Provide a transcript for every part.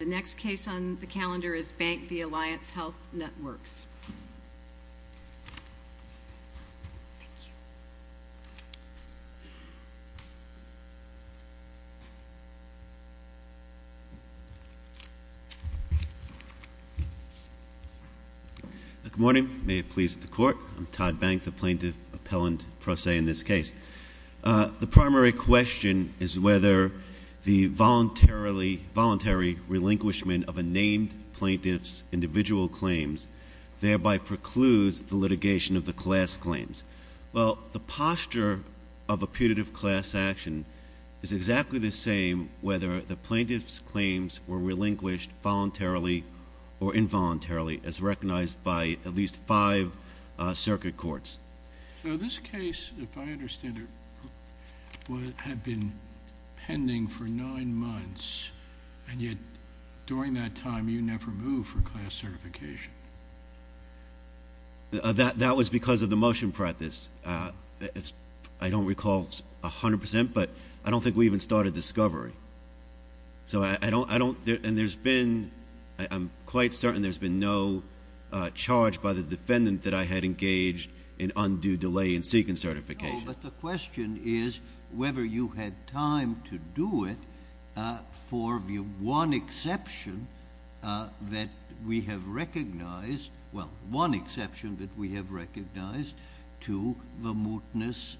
The next case on the calendar is Bank v. Alliance Health Networks. Good morning. May it please the Court. I'm Todd Bank, the Plaintiff Appellant Pro Se in this case. The primary question is whether the voluntary relinquishment of a named plaintiff's individual claims thereby precludes the litigation of the class claims. Well, the posture of a putative class action is exactly the same whether the plaintiff's claims were relinquished voluntarily or involuntarily as recognized by at least five circuit courts. So this case, if I understand it, had been pending for nine months, and yet during that time you never moved for class certification. That was because of the motion practice. I don't recall 100 percent, but I don't think we even started discovery. So I don't—and there's been—I'm quite certain there's been no charge by the defendant that I had engaged in undue delay in seeking certification. No, but the question is whether you had time to do it for the one exception that we have recognized—well, one exception that we have recognized to the mootness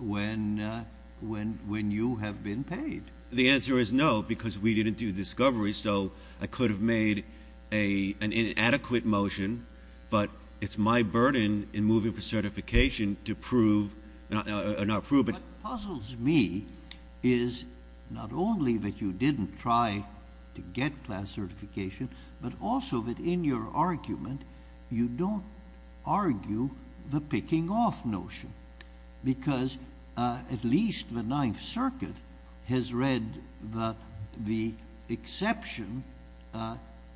when you have been paid. The answer is no, because we didn't do discovery, so I could have made an inadequate motion, but it's my burden in moving for certification to prove—not prove, but— What puzzles me is not only that you didn't try to get class certification, but also that in your argument you don't argue the picking off notion because at least the Ninth Circuit has read the exception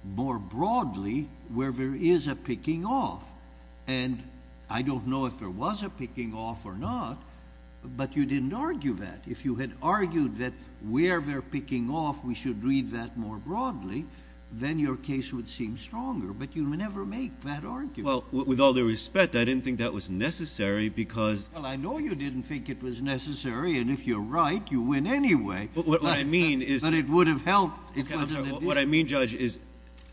more broadly where there is a picking off. And I don't know if there was a picking off or not, but you didn't argue that. If you had argued that where they're picking off, we should read that more broadly, then your case would seem stronger. But you never make that argument. Well, with all due respect, I didn't think that was necessary because— Well, I know you didn't think it was necessary, and if you're right, you win anyway. But what I mean is— But it would have helped if— What I mean, Judge, is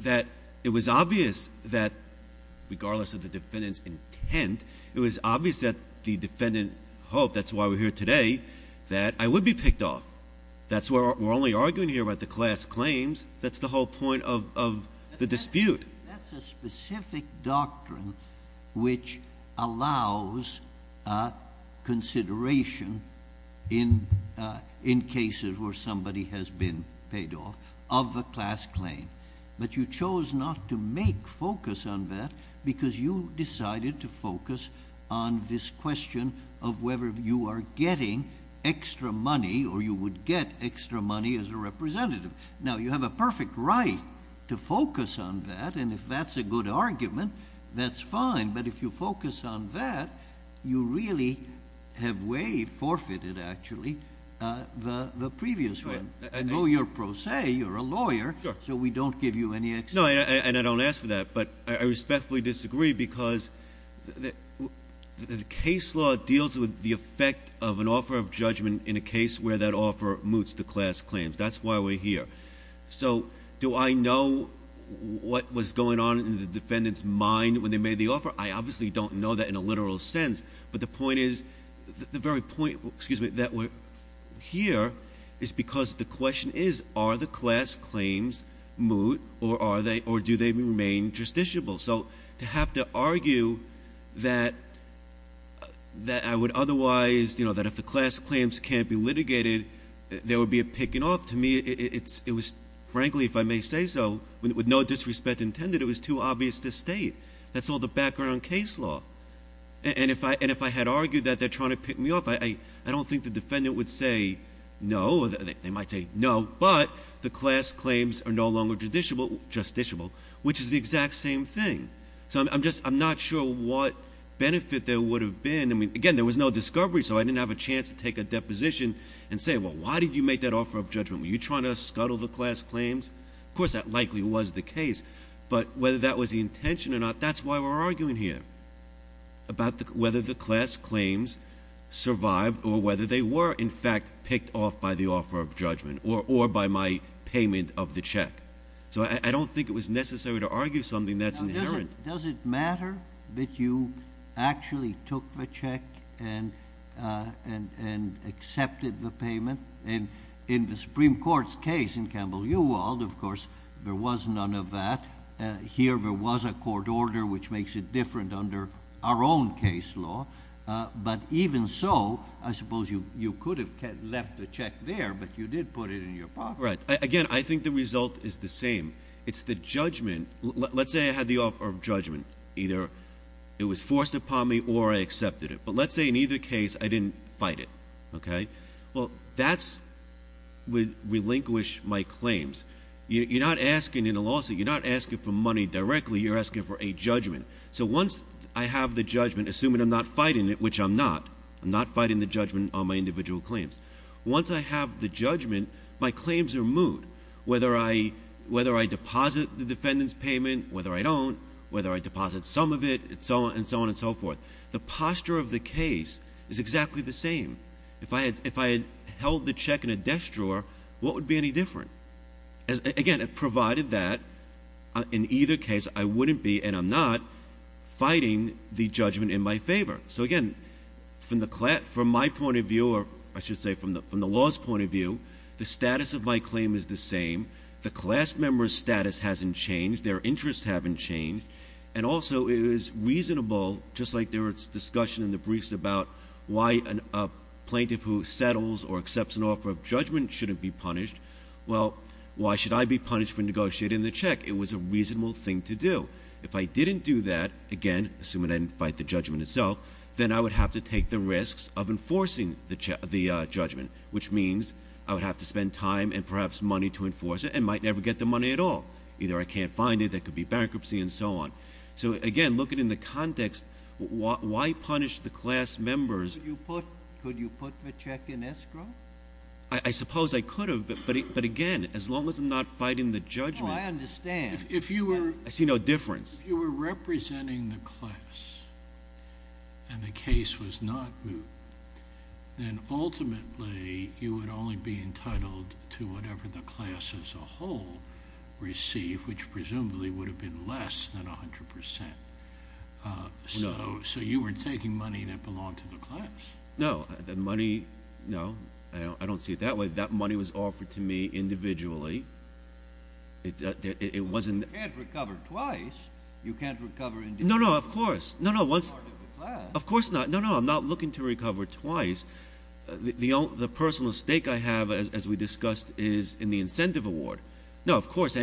that it was obvious that regardless of the defendant's intent, it was obvious that the defendant hoped—that's why we're here today—that I would be picked off. That's why we're only arguing here about the class claims. That's the whole point of the dispute. That's a specific doctrine which allows consideration in cases where somebody has been paid off of a class claim. But you chose not to make focus on that because you decided to focus on this question of whether you are getting extra money or you would get extra money as a representative. Now, you have a perfect right to focus on that, and if that's a good argument, that's fine. But if you focus on that, you really have way forfeited, actually, the previous one. I know you're pro se. You're a lawyer, so we don't give you any— No, and I don't ask for that. But I respectfully disagree because the case law deals with the effect of an offer of judgment in a case where that offer moots the class claims. That's why we're here. So do I know what was going on in the defendant's mind when they made the offer? I obviously don't know that in a literal sense. But the point is—the very point, excuse me, that we're here is because the question is, are the class claims moot or do they remain justiciable? So to have to argue that I would otherwise—that if the class claims can't be litigated, there would be a picking off. To me, it was—frankly, if I may say so, with no disrespect intended, it was too obvious to state. That's all the background case law. And if I had argued that they're trying to pick me off, I don't think the defendant would say no. They might say no, but the class claims are no longer justiciable, which is the exact same thing. So I'm just—I'm not sure what benefit there would have been. I mean, again, there was no discovery, so I didn't have a chance to take a deposition and say, well, why did you make that offer of judgment? Were you trying to scuttle the class claims? Of course, that likely was the case. But whether that was the intention or not, that's why we're arguing here about whether the class claims survived or whether they were, in fact, picked off by the offer of judgment or by my payment of the check. So I don't think it was necessary to argue something that's inherent. Now, does it matter that you actually took the check and accepted the payment? In the Supreme Court's case in Campbell-Uwald, of course, there was none of that. Here there was a court order, which makes it different under our own case law. But even so, I suppose you could have left the check there, but you did put it in your pocket. Right. Again, I think the result is the same. It's the judgment—let's say I had the offer of judgment. Either it was forced upon me or I accepted it. But let's say in either case I didn't fight it. Well, that would relinquish my claims. You're not asking in a lawsuit. You're not asking for money directly. You're asking for a judgment. So once I have the judgment, assuming I'm not fighting it, which I'm not, I'm not fighting the judgment on my individual claims. Once I have the judgment, my claims are moved, whether I deposit the defendant's payment, whether I don't, whether I deposit some of it, and so on and so forth. The posture of the case is exactly the same. If I had held the check in a desk drawer, what would be any different? Again, provided that in either case I wouldn't be, and I'm not, fighting the judgment in my favor. So again, from my point of view, or I should say from the law's point of view, the status of my claim is the same. The class member's status hasn't changed. Their interests haven't changed. And also, it is reasonable, just like there was discussion in the briefs about why a plaintiff who settles or accepts an offer of judgment shouldn't be punished, well, why should I be punished for negotiating the check? It was a reasonable thing to do. If I didn't do that, again, assuming I didn't fight the judgment itself, then I would have to take the risks of enforcing the judgment. Which means I would have to spend time and perhaps money to enforce it, and might never get the money at all. Either I can't find it, there could be bankruptcy, and so on. So again, looking in the context, why punish the class members? Could you put the check in escrow? I suppose I could have, but again, as long as I'm not fighting the judgment. Oh, I understand. I see no difference. If you were representing the class and the case was not moved, then ultimately you would only be entitled to whatever the class as a whole received, which presumably would have been less than 100%. No. So you were taking money that belonged to the class. No. The money, no. I don't see it that way. That money was offered to me individually. It wasn't. You can't recover twice. You can't recover individually. No, no, of course. No, no, once. As part of the class. Of course not. No, no, I'm not looking to recover twice. The personal stake I have, as we discussed, is in the incentive award. No, of course.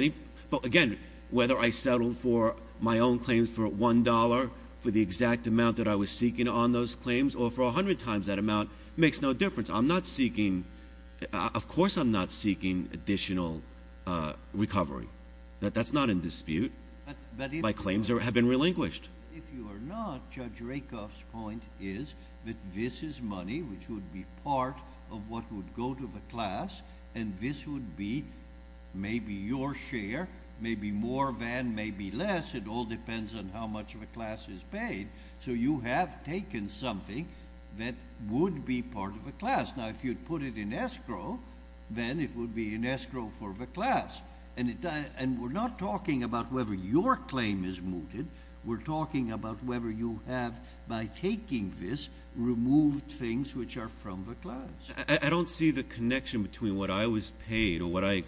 But again, whether I settled for my own claims for $1, for the exact amount that I was seeking on those claims, or for 100 times that amount, makes no difference. Of course I'm not seeking additional recovery. That's not in dispute. My claims have been relinquished. If you are not, Judge Rakoff's point is that this is money which would be part of what would go to the class, and this would be maybe your share, maybe more than, maybe less. It all depends on how much of a class is paid. So you have taken something that would be part of a class. Now, if you'd put it in escrow, then it would be in escrow for the class. And we're not talking about whether your claim is mooted. We're talking about whether you have, by taking this, removed things which are from the class. I don't see the connection between what I was paid or what I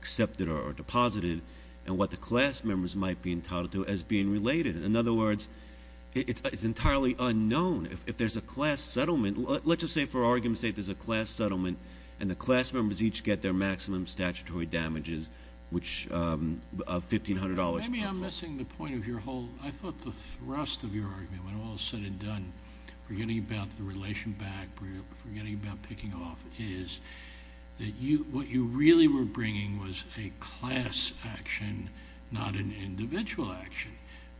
accepted or deposited and what the class members might be entitled to as being related. In other words, it's entirely unknown. If there's a class settlement, let's just say for argument's sake there's a class settlement, and the class members each get their maximum statutory damages of $1,500. Maybe I'm missing the point of your whole—I thought the thrust of your argument, when all is said and done, forgetting about the relation back, forgetting about picking off, is that what you really were bringing was a class action, not an individual action.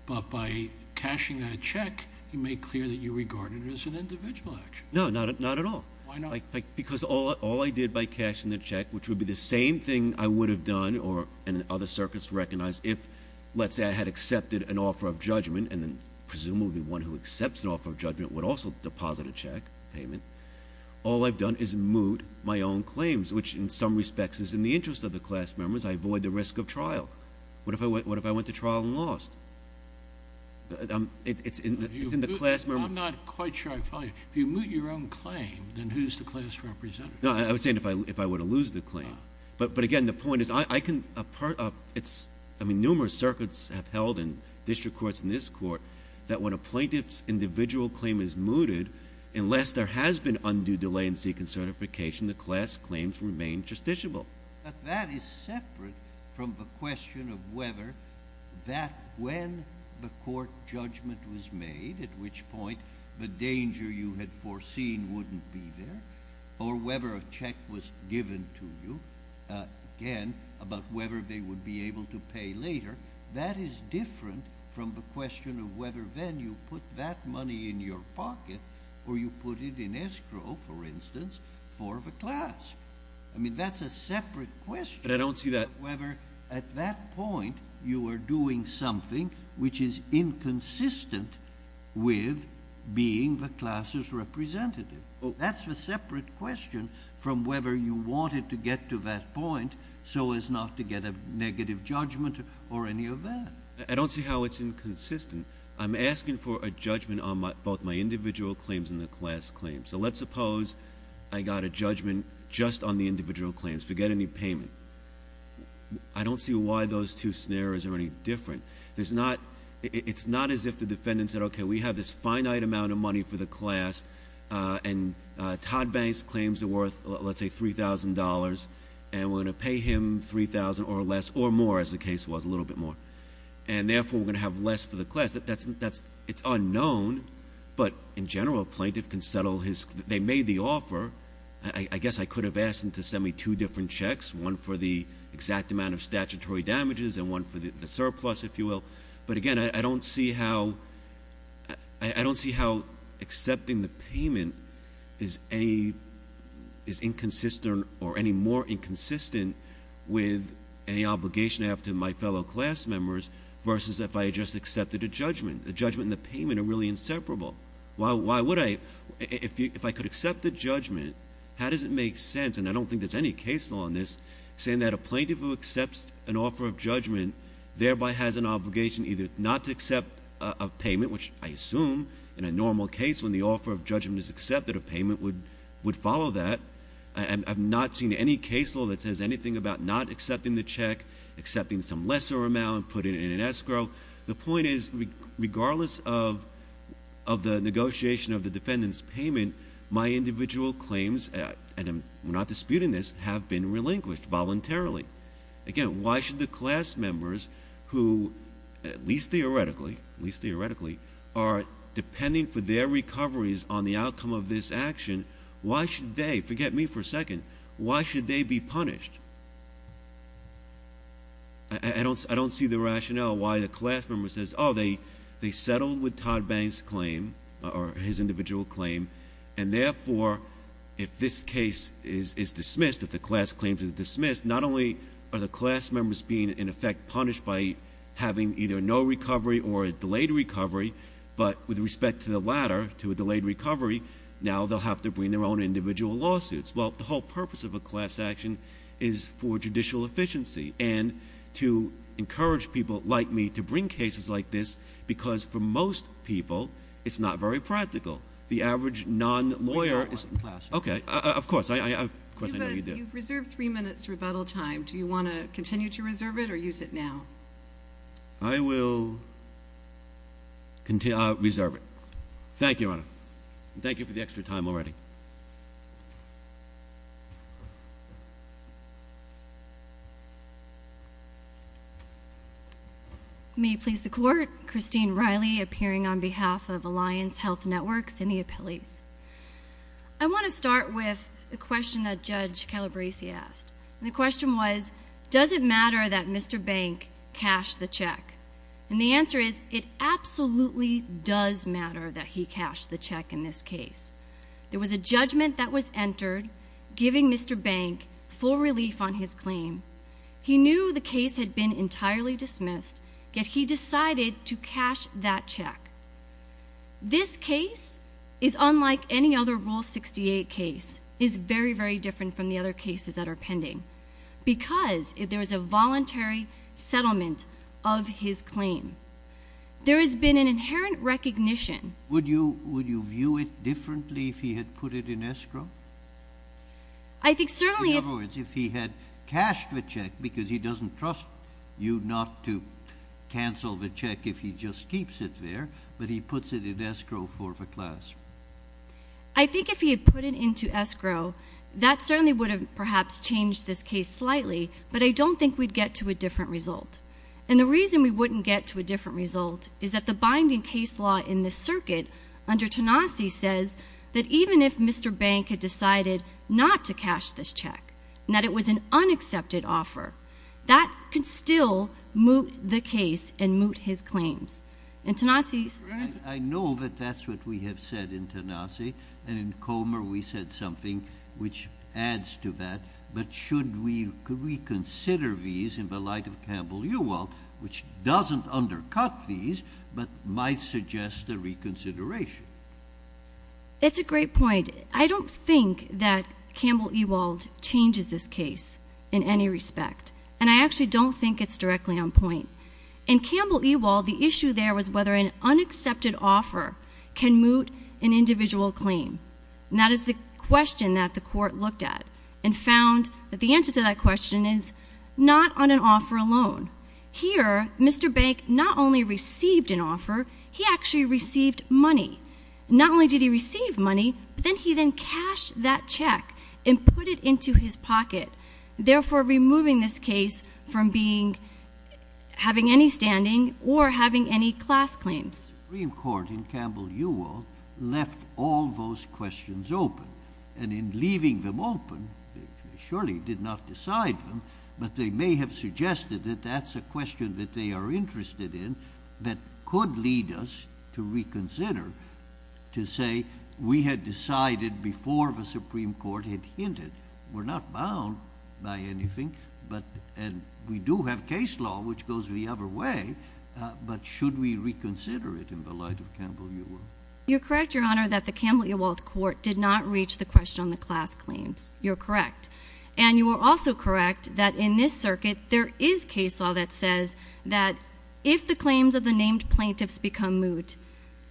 But by cashing that check, you made clear that you regarded it as an individual action. No, not at all. Why not? Because all I did by cashing the check, which would be the same thing I would have done, and other circuits would recognize if, let's say, I had accepted an offer of judgment, and then presumably one who accepts an offer of judgment would also deposit a check payment. All I've done is moot my own claims, which in some respects is in the interest of the class members. I avoid the risk of trial. What if I went to trial and lost? It's in the class— I'm not quite sure I follow you. If you moot your own claim, then who's the class representative? No, I was saying if I were to lose the claim. But, again, the point is I can—I mean, numerous circuits have held in district courts and this court that when a plaintiff's individual claim is mooted, unless there has been undue delay in seeking certification, the class claims remain justiciable. But that is separate from the question of whether that when the court judgment was made, at which point the danger you had foreseen wouldn't be there, or whether a check was given to you, again, about whether they would be able to pay later, that is different from the question of whether then you put that money in your pocket or you put it in escrow, for instance, for the class. I mean, that's a separate question. But I don't see that— Whether at that point you were doing something which is inconsistent with being the class's representative. That's a separate question from whether you wanted to get to that point so as not to get a negative judgment or any of that. I don't see how it's inconsistent. I'm asking for a judgment on both my individual claims and the class claims. So let's suppose I got a judgment just on the individual claims. Forget any payment. I don't see why those two scenarios are any different. It's not as if the defendant said, okay, we have this finite amount of money for the class and Todd Banks claims are worth, let's say, $3,000, and we're going to pay him $3,000 or less or more, as the case was, a little bit more. And therefore, we're going to have less for the class. It's unknown, but in general, a plaintiff can settle his—they made the offer. I guess I could have asked them to send me two different checks, one for the exact amount of statutory damages and one for the surplus, if you will. But again, I don't see how accepting the payment is inconsistent or any more inconsistent with any obligation I have to my fellow class members versus if I had just accepted a judgment. The judgment and the payment are really inseparable. Why would I—if I could accept the judgment, how does it make sense, and I don't think there's any case law on this, saying that a plaintiff who accepts an offer of judgment thereby has an obligation either not to accept a payment, which I assume in a normal case when the offer of judgment is accepted, a payment would follow that. I have not seen any case law that says anything about not accepting the check, accepting some lesser amount, putting it in escrow. The point is regardless of the negotiation of the defendant's payment, my individual claims, and I'm not disputing this, have been relinquished voluntarily. Again, why should the class members who, at least theoretically, are depending for their recoveries on the outcome of this action, why should they—forget me for a second—why should they be punished? I don't see the rationale why the class member says, oh, they settled with Todd Banks' claim or his individual claim, and therefore if this case is dismissed, if the class claims are dismissed, not only are the class members being in effect punished by having either no recovery or a delayed recovery, but with respect to the latter, to a delayed recovery, now they'll have to bring their own individual lawsuits. Well, the whole purpose of a class action is for judicial efficiency and to encourage people like me to bring cases like this because for most people it's not very practical. The average non-lawyer is— Okay, of course, I know you do. You've reserved three minutes rebuttal time. Do you want to continue to reserve it or use it now? I will reserve it. Thank you, Your Honor. Thank you for the extra time already. May it please the Court. Christine Riley appearing on behalf of Alliance Health Networks in the appellees. I want to start with a question that Judge Calabresi asked, and the question was, does it matter that Mr. Bank cashed the check? And the answer is, it absolutely does matter that he cashed the check in this case. There was a judgment that was entered giving Mr. Bank full relief on his claim. He knew the case had been entirely dismissed, yet he decided to cash that check. This case is unlike any other Rule 68 case. It is very, very different from the other cases that are pending because there is a voluntary settlement of his claim. There has been an inherent recognition— Would you view it differently if he had put it in escrow? I think certainly— In other words, if he had cashed the check, because he doesn't trust you not to cancel the check if he just keeps it there, but he puts it in escrow for the class. I think if he had put it into escrow, that certainly would have perhaps changed this case slightly, but I don't think we'd get to a different result. And the reason we wouldn't get to a different result is that the binding case law in this circuit, under Tenassi, says that even if Mr. Bank had decided not to cash this check and that it was an unaccepted offer, that could still moot the case and moot his claims. In Tenassi's— I know that that's what we have said in Tenassi, and in Comer we said something which adds to that, but should we reconsider these in the light of Campbell-Uwald, which doesn't undercut these but might suggest a reconsideration? It's a great point. I don't think that Campbell-Uwald changes this case in any respect, and I actually don't think it's directly on point. In Campbell-Uwald, the issue there was whether an unaccepted offer can moot an individual claim, and that is the question that the Court looked at and found that the answer to that question is not on an offer alone. Here, Mr. Bank not only received an offer, he actually received money. Not only did he receive money, but then he then cashed that check and put it into his pocket, therefore removing this case from having any standing or having any class claims. The Supreme Court in Campbell-Uwald left all those questions open, and in leaving them open, they surely did not decide them, but they may have suggested that that's a question that they are interested in that could lead us to reconsider, to say we had decided before the Supreme Court had hinted. We're not bound by anything, and we do have case law which goes the other way, but should we reconsider it in the light of Campbell-Uwald? You're correct, Your Honor, that the Campbell-Uwald Court did not reach the question on the class claims. You're correct. And you are also correct that in this circuit, there is case law that says that if the claims of the named plaintiffs become moot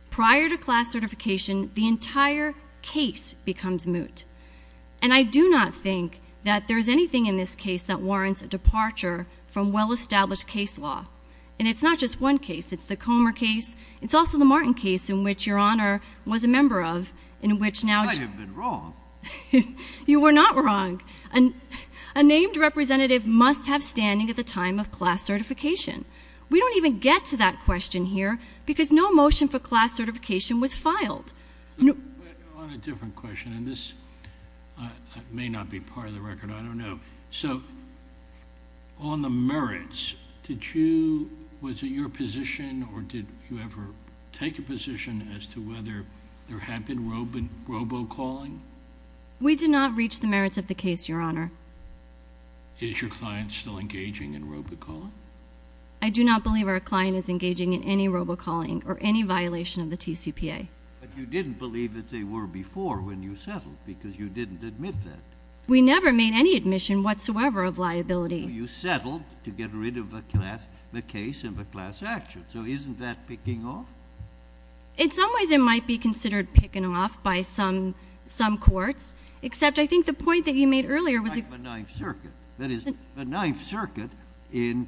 prior to class certification, the entire case becomes moot. And I do not think that there's anything in this case that warrants a departure from well-established case law. And it's not just one case. It's the Comer case. It's also the Martin case in which Your Honor was a member of in which now— I might have been wrong. You were not wrong. A named representative must have standing at the time of class certification. We don't even get to that question here because no motion for class certification was filed. On a different question, and this may not be part of the record. I don't know. So on the merits, did you—was it your position or did you ever take a position as to whether there had been robocalling? We did not reach the merits of the case, Your Honor. Is your client still engaging in robocalling? I do not believe our client is engaging in any robocalling or any violation of the TCPA. But you didn't believe that they were before when you settled because you didn't admit that. We never made any admission whatsoever of liability. You settled to get rid of the case and the class action. So isn't that picking off? In some ways, it might be considered picking off by some courts, except I think the point that you made earlier was— Like the Ninth Circuit. That is, the Ninth Circuit in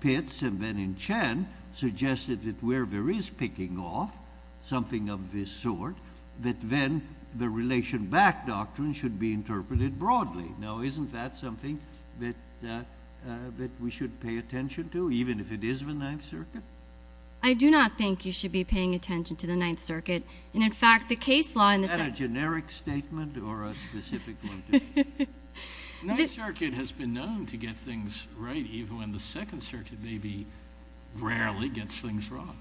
Pitts and then in Chen suggested that where there is picking off, something of this sort, that then the relation back doctrine should be interpreted broadly. Now, isn't that something that we should pay attention to, even if it is the Ninth Circuit? I do not think you should be paying attention to the Ninth Circuit. And, in fact, the case law in the— Is that a generic statement or a specific one to you? The Ninth Circuit has been known to get things right, even when the Second Circuit maybe rarely gets things wrong.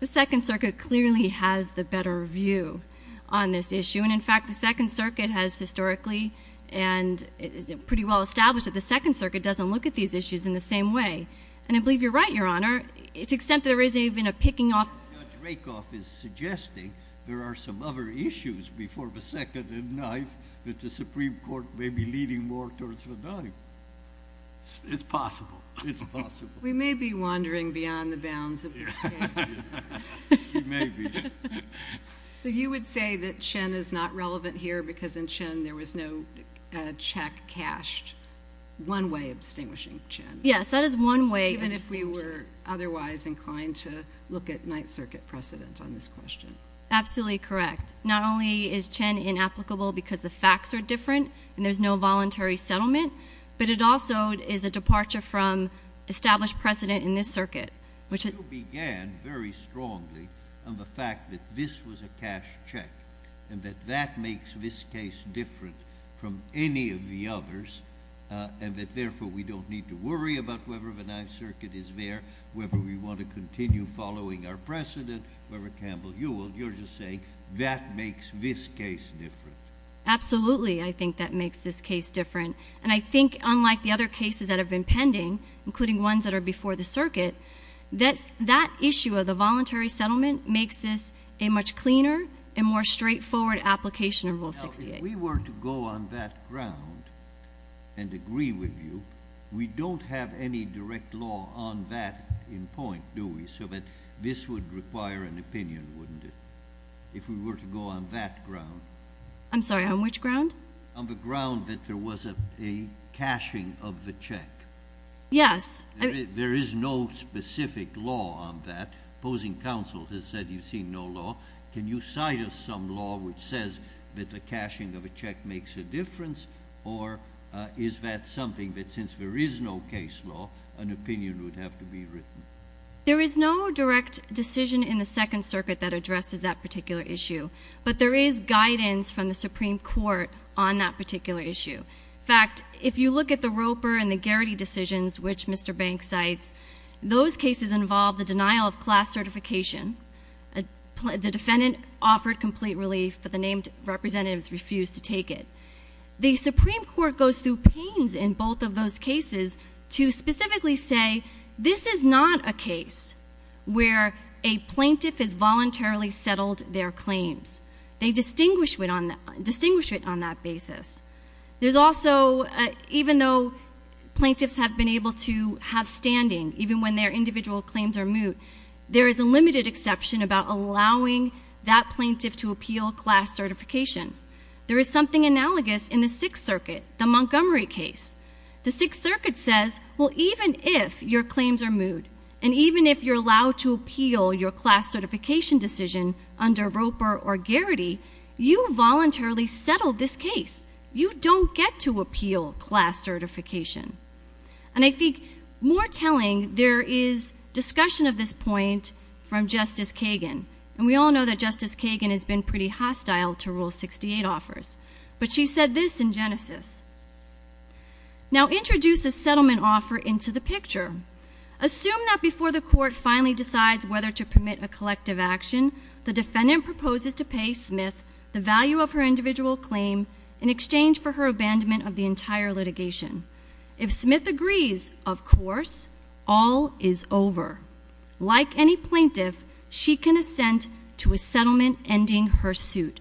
The Second Circuit clearly has the better view on this issue. And, in fact, the Second Circuit has historically and is pretty well established that the Second Circuit doesn't look at these issues in the same way. And I believe you're right, Your Honor, to the extent that there isn't even a picking off. Judge Rakoff is suggesting there are some other issues before the Second and Ninth that the Supreme Court may be leading more towards withdrawing. It's possible. It's possible. We may be wandering beyond the bounds of this case. We may be. So you would say that Chen is not relevant here because, in Chen, there was no check cashed, one way of distinguishing Chen. Yes, that is one way of distinguishing. Even if we were otherwise inclined to look at Ninth Circuit precedent on this question. Absolutely correct. Not only is Chen inapplicable because the facts are different and there's no voluntary settlement, but it also is a departure from established precedent in this circuit. You began very strongly on the fact that this was a cash check and that that makes this case different from any of the others and that, therefore, we don't need to worry about whether the Ninth Circuit is there, whether we want to continue following our precedent, whether Campbell Hewitt, you're just saying that makes this case different. Absolutely, I think that makes this case different. And I think, unlike the other cases that have been pending, including ones that are before the circuit, that issue of the voluntary settlement makes this a much cleaner and more straightforward application of Rule 68. Now, if we were to go on that ground and agree with you, we don't have any direct law on that in point, do we, so that this would require an opinion, wouldn't it, if we were to go on that ground? I'm sorry, on which ground? On the ground that there was a cashing of the check. Yes. There is no specific law on that. Opposing counsel has said you've seen no law. Can you cite us some law which says that the cashing of a check makes a difference, or is that something that, since there is no case law, an opinion would have to be written? There is no direct decision in the Second Circuit that addresses that particular issue, but there is guidance from the Supreme Court on that particular issue. In fact, if you look at the Roper and the Garrity decisions, which Mr. Banks cites, those cases involve the denial of class certification. The defendant offered complete relief, but the named representatives refused to take it. The Supreme Court goes through pains in both of those cases to specifically say, this is not a case where a plaintiff has voluntarily settled their claims. They distinguish it on that basis. There's also, even though plaintiffs have been able to have standing, even when their individual claims are moot, there is a limited exception about allowing that plaintiff to appeal class certification. There is something analogous in the Sixth Circuit, the Montgomery case. The Sixth Circuit says, well, even if your claims are moot, and even if you're allowed to appeal your class certification decision under Roper or Garrity, you voluntarily settled this case. You don't get to appeal class certification. And I think more telling, there is discussion of this point from Justice Kagan, and we all know that Justice Kagan has been pretty hostile to Rule 68 offers, but she said this in Genesis. Now, introduce a settlement offer into the picture. Assume that before the court finally decides whether to permit a collective action, the defendant proposes to pay Smith the value of her individual claim in exchange for her abandonment of the entire litigation. If Smith agrees, of course, all is over. Like any plaintiff, she can assent to a settlement ending her suit.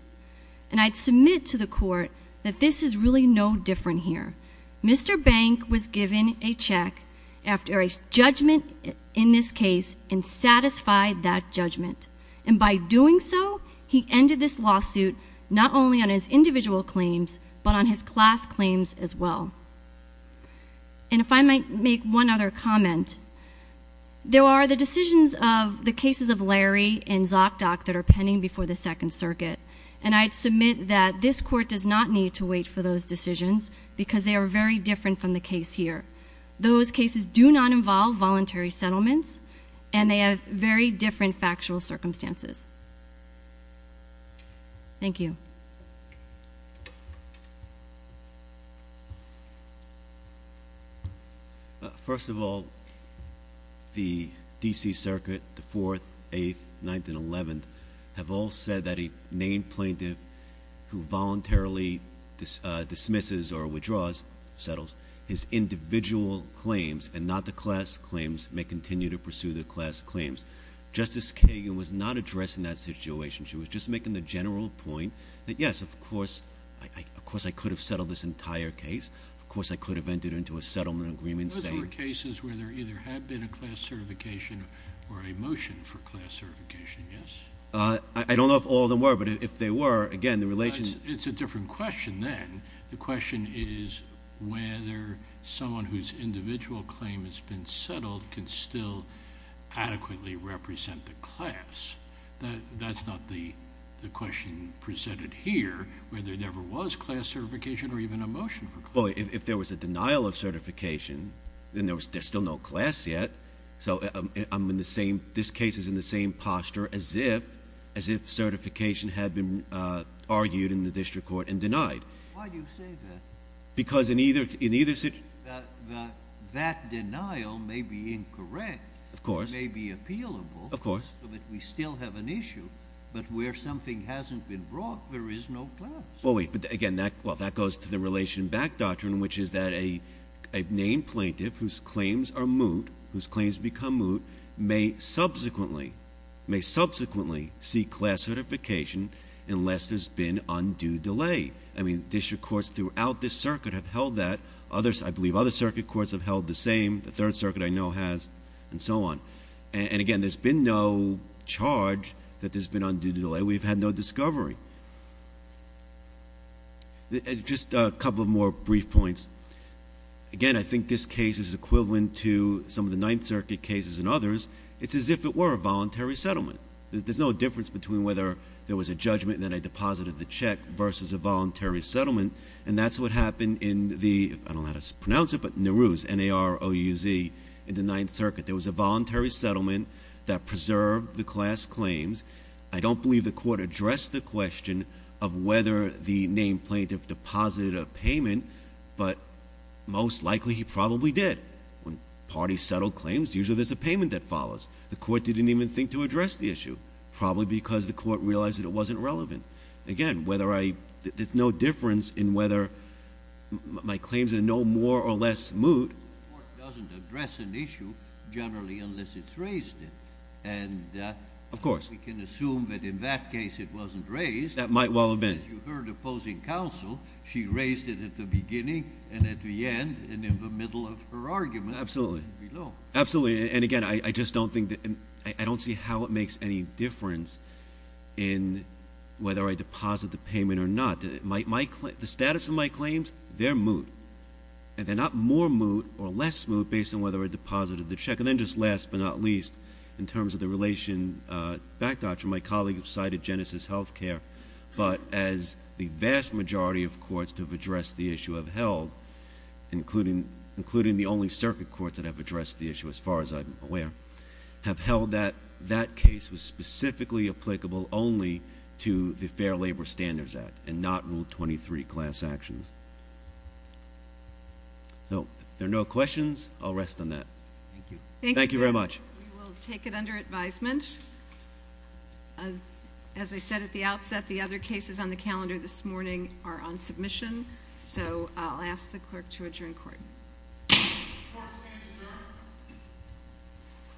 And I'd submit to the court that this is really no different here. Mr. Bank was given a check after a judgment in this case and satisfied that judgment. And by doing so, he ended this lawsuit not only on his individual claims, but on his class claims as well. And if I might make one other comment, there are the decisions of the cases of Larry and Zokdok that are pending before the Second Circuit, and I'd submit that this court does not need to wait for those decisions because they are very different from the case here. Those cases do not involve voluntary settlements, and they have very different factual circumstances. Thank you. First of all, the D.C. Circuit, the 4th, 8th, 9th, and 11th, have all said that a named plaintiff who voluntarily dismisses or withdraws, settles, his individual claims and not the class claims may continue to pursue the class claims. Justice Kagan was not addressing that situation. She was just making the general point that, yes, of course, I could have settled this entire case. Of course, I could have entered into a settlement agreement saying— Those were cases where there either had been a class certification or a motion for class certification, yes? I don't know if all of them were, but if they were, again, the relation— It's a different question then. The question is whether someone whose individual claim has been settled can still adequately represent the class. That's not the question presented here, whether there never was class certification or even a motion for class. Well, if there was a denial of certification, then there's still no class yet. So I'm in the same—this case is in the same posture as if certification had been argued in the district court and denied. Why do you say that? Because in either— That denial may be incorrect. Of course. It may be appealable. Of course. But we still have an issue. But where something hasn't been brought, there is no class. Well, wait. But, again, that goes to the relation back doctrine, which is that a named plaintiff whose claims are moot, whose claims become moot, may subsequently seek class certification unless there's been undue delay. I mean district courts throughout this circuit have held that. I believe other circuit courts have held the same. The Third Circuit, I know, has, and so on. And, again, there's been no charge that there's been undue delay. We've had no discovery. Just a couple more brief points. Again, I think this case is equivalent to some of the Ninth Circuit cases and others. It's as if it were a voluntary settlement. There's no difference between whether there was a judgment and then a deposit of the check versus a voluntary settlement, and that's what happened in the—I don't know how to pronounce it, but NARUZ, N-A-R-U-Z, in the Ninth Circuit. There was a voluntary settlement that preserved the class claims. I don't believe the court addressed the question of whether the named plaintiff deposited a payment, but most likely he probably did. When parties settle claims, usually there's a payment that follows. The court didn't even think to address the issue, probably because the court realized that it wasn't relevant. Again, whether I—there's no difference in whether my claims are no more or less moot. The court doesn't address an issue generally unless it's raised it. And— Of course. We can assume that in that case it wasn't raised. That might well have been. As you heard opposing counsel, she raised it at the beginning and at the end and in the middle of her argument. Absolutely. And below. Absolutely. And again, I just don't think—I don't see how it makes any difference in whether I deposit the payment or not. The status of my claims? They're moot. And they're not more moot or less moot based on whether I deposited the check. And then just last but not least, in terms of the relation backdodged from my colleague who cited Genesis Healthcare, but as the vast majority of courts to have addressed the issue have held, including the only circuit courts that have addressed the issue as far as I'm aware, have held that that case was specifically applicable only to the Fair Labor Standards Act and not Rule 23 class actions. So if there are no questions, I'll rest on that. Thank you. Thank you very much. We will take it under advisement. As I said at the outset, the other cases on the calendar this morning are on submission, so I'll ask the clerk to adjourn court. Court is standing adjourned.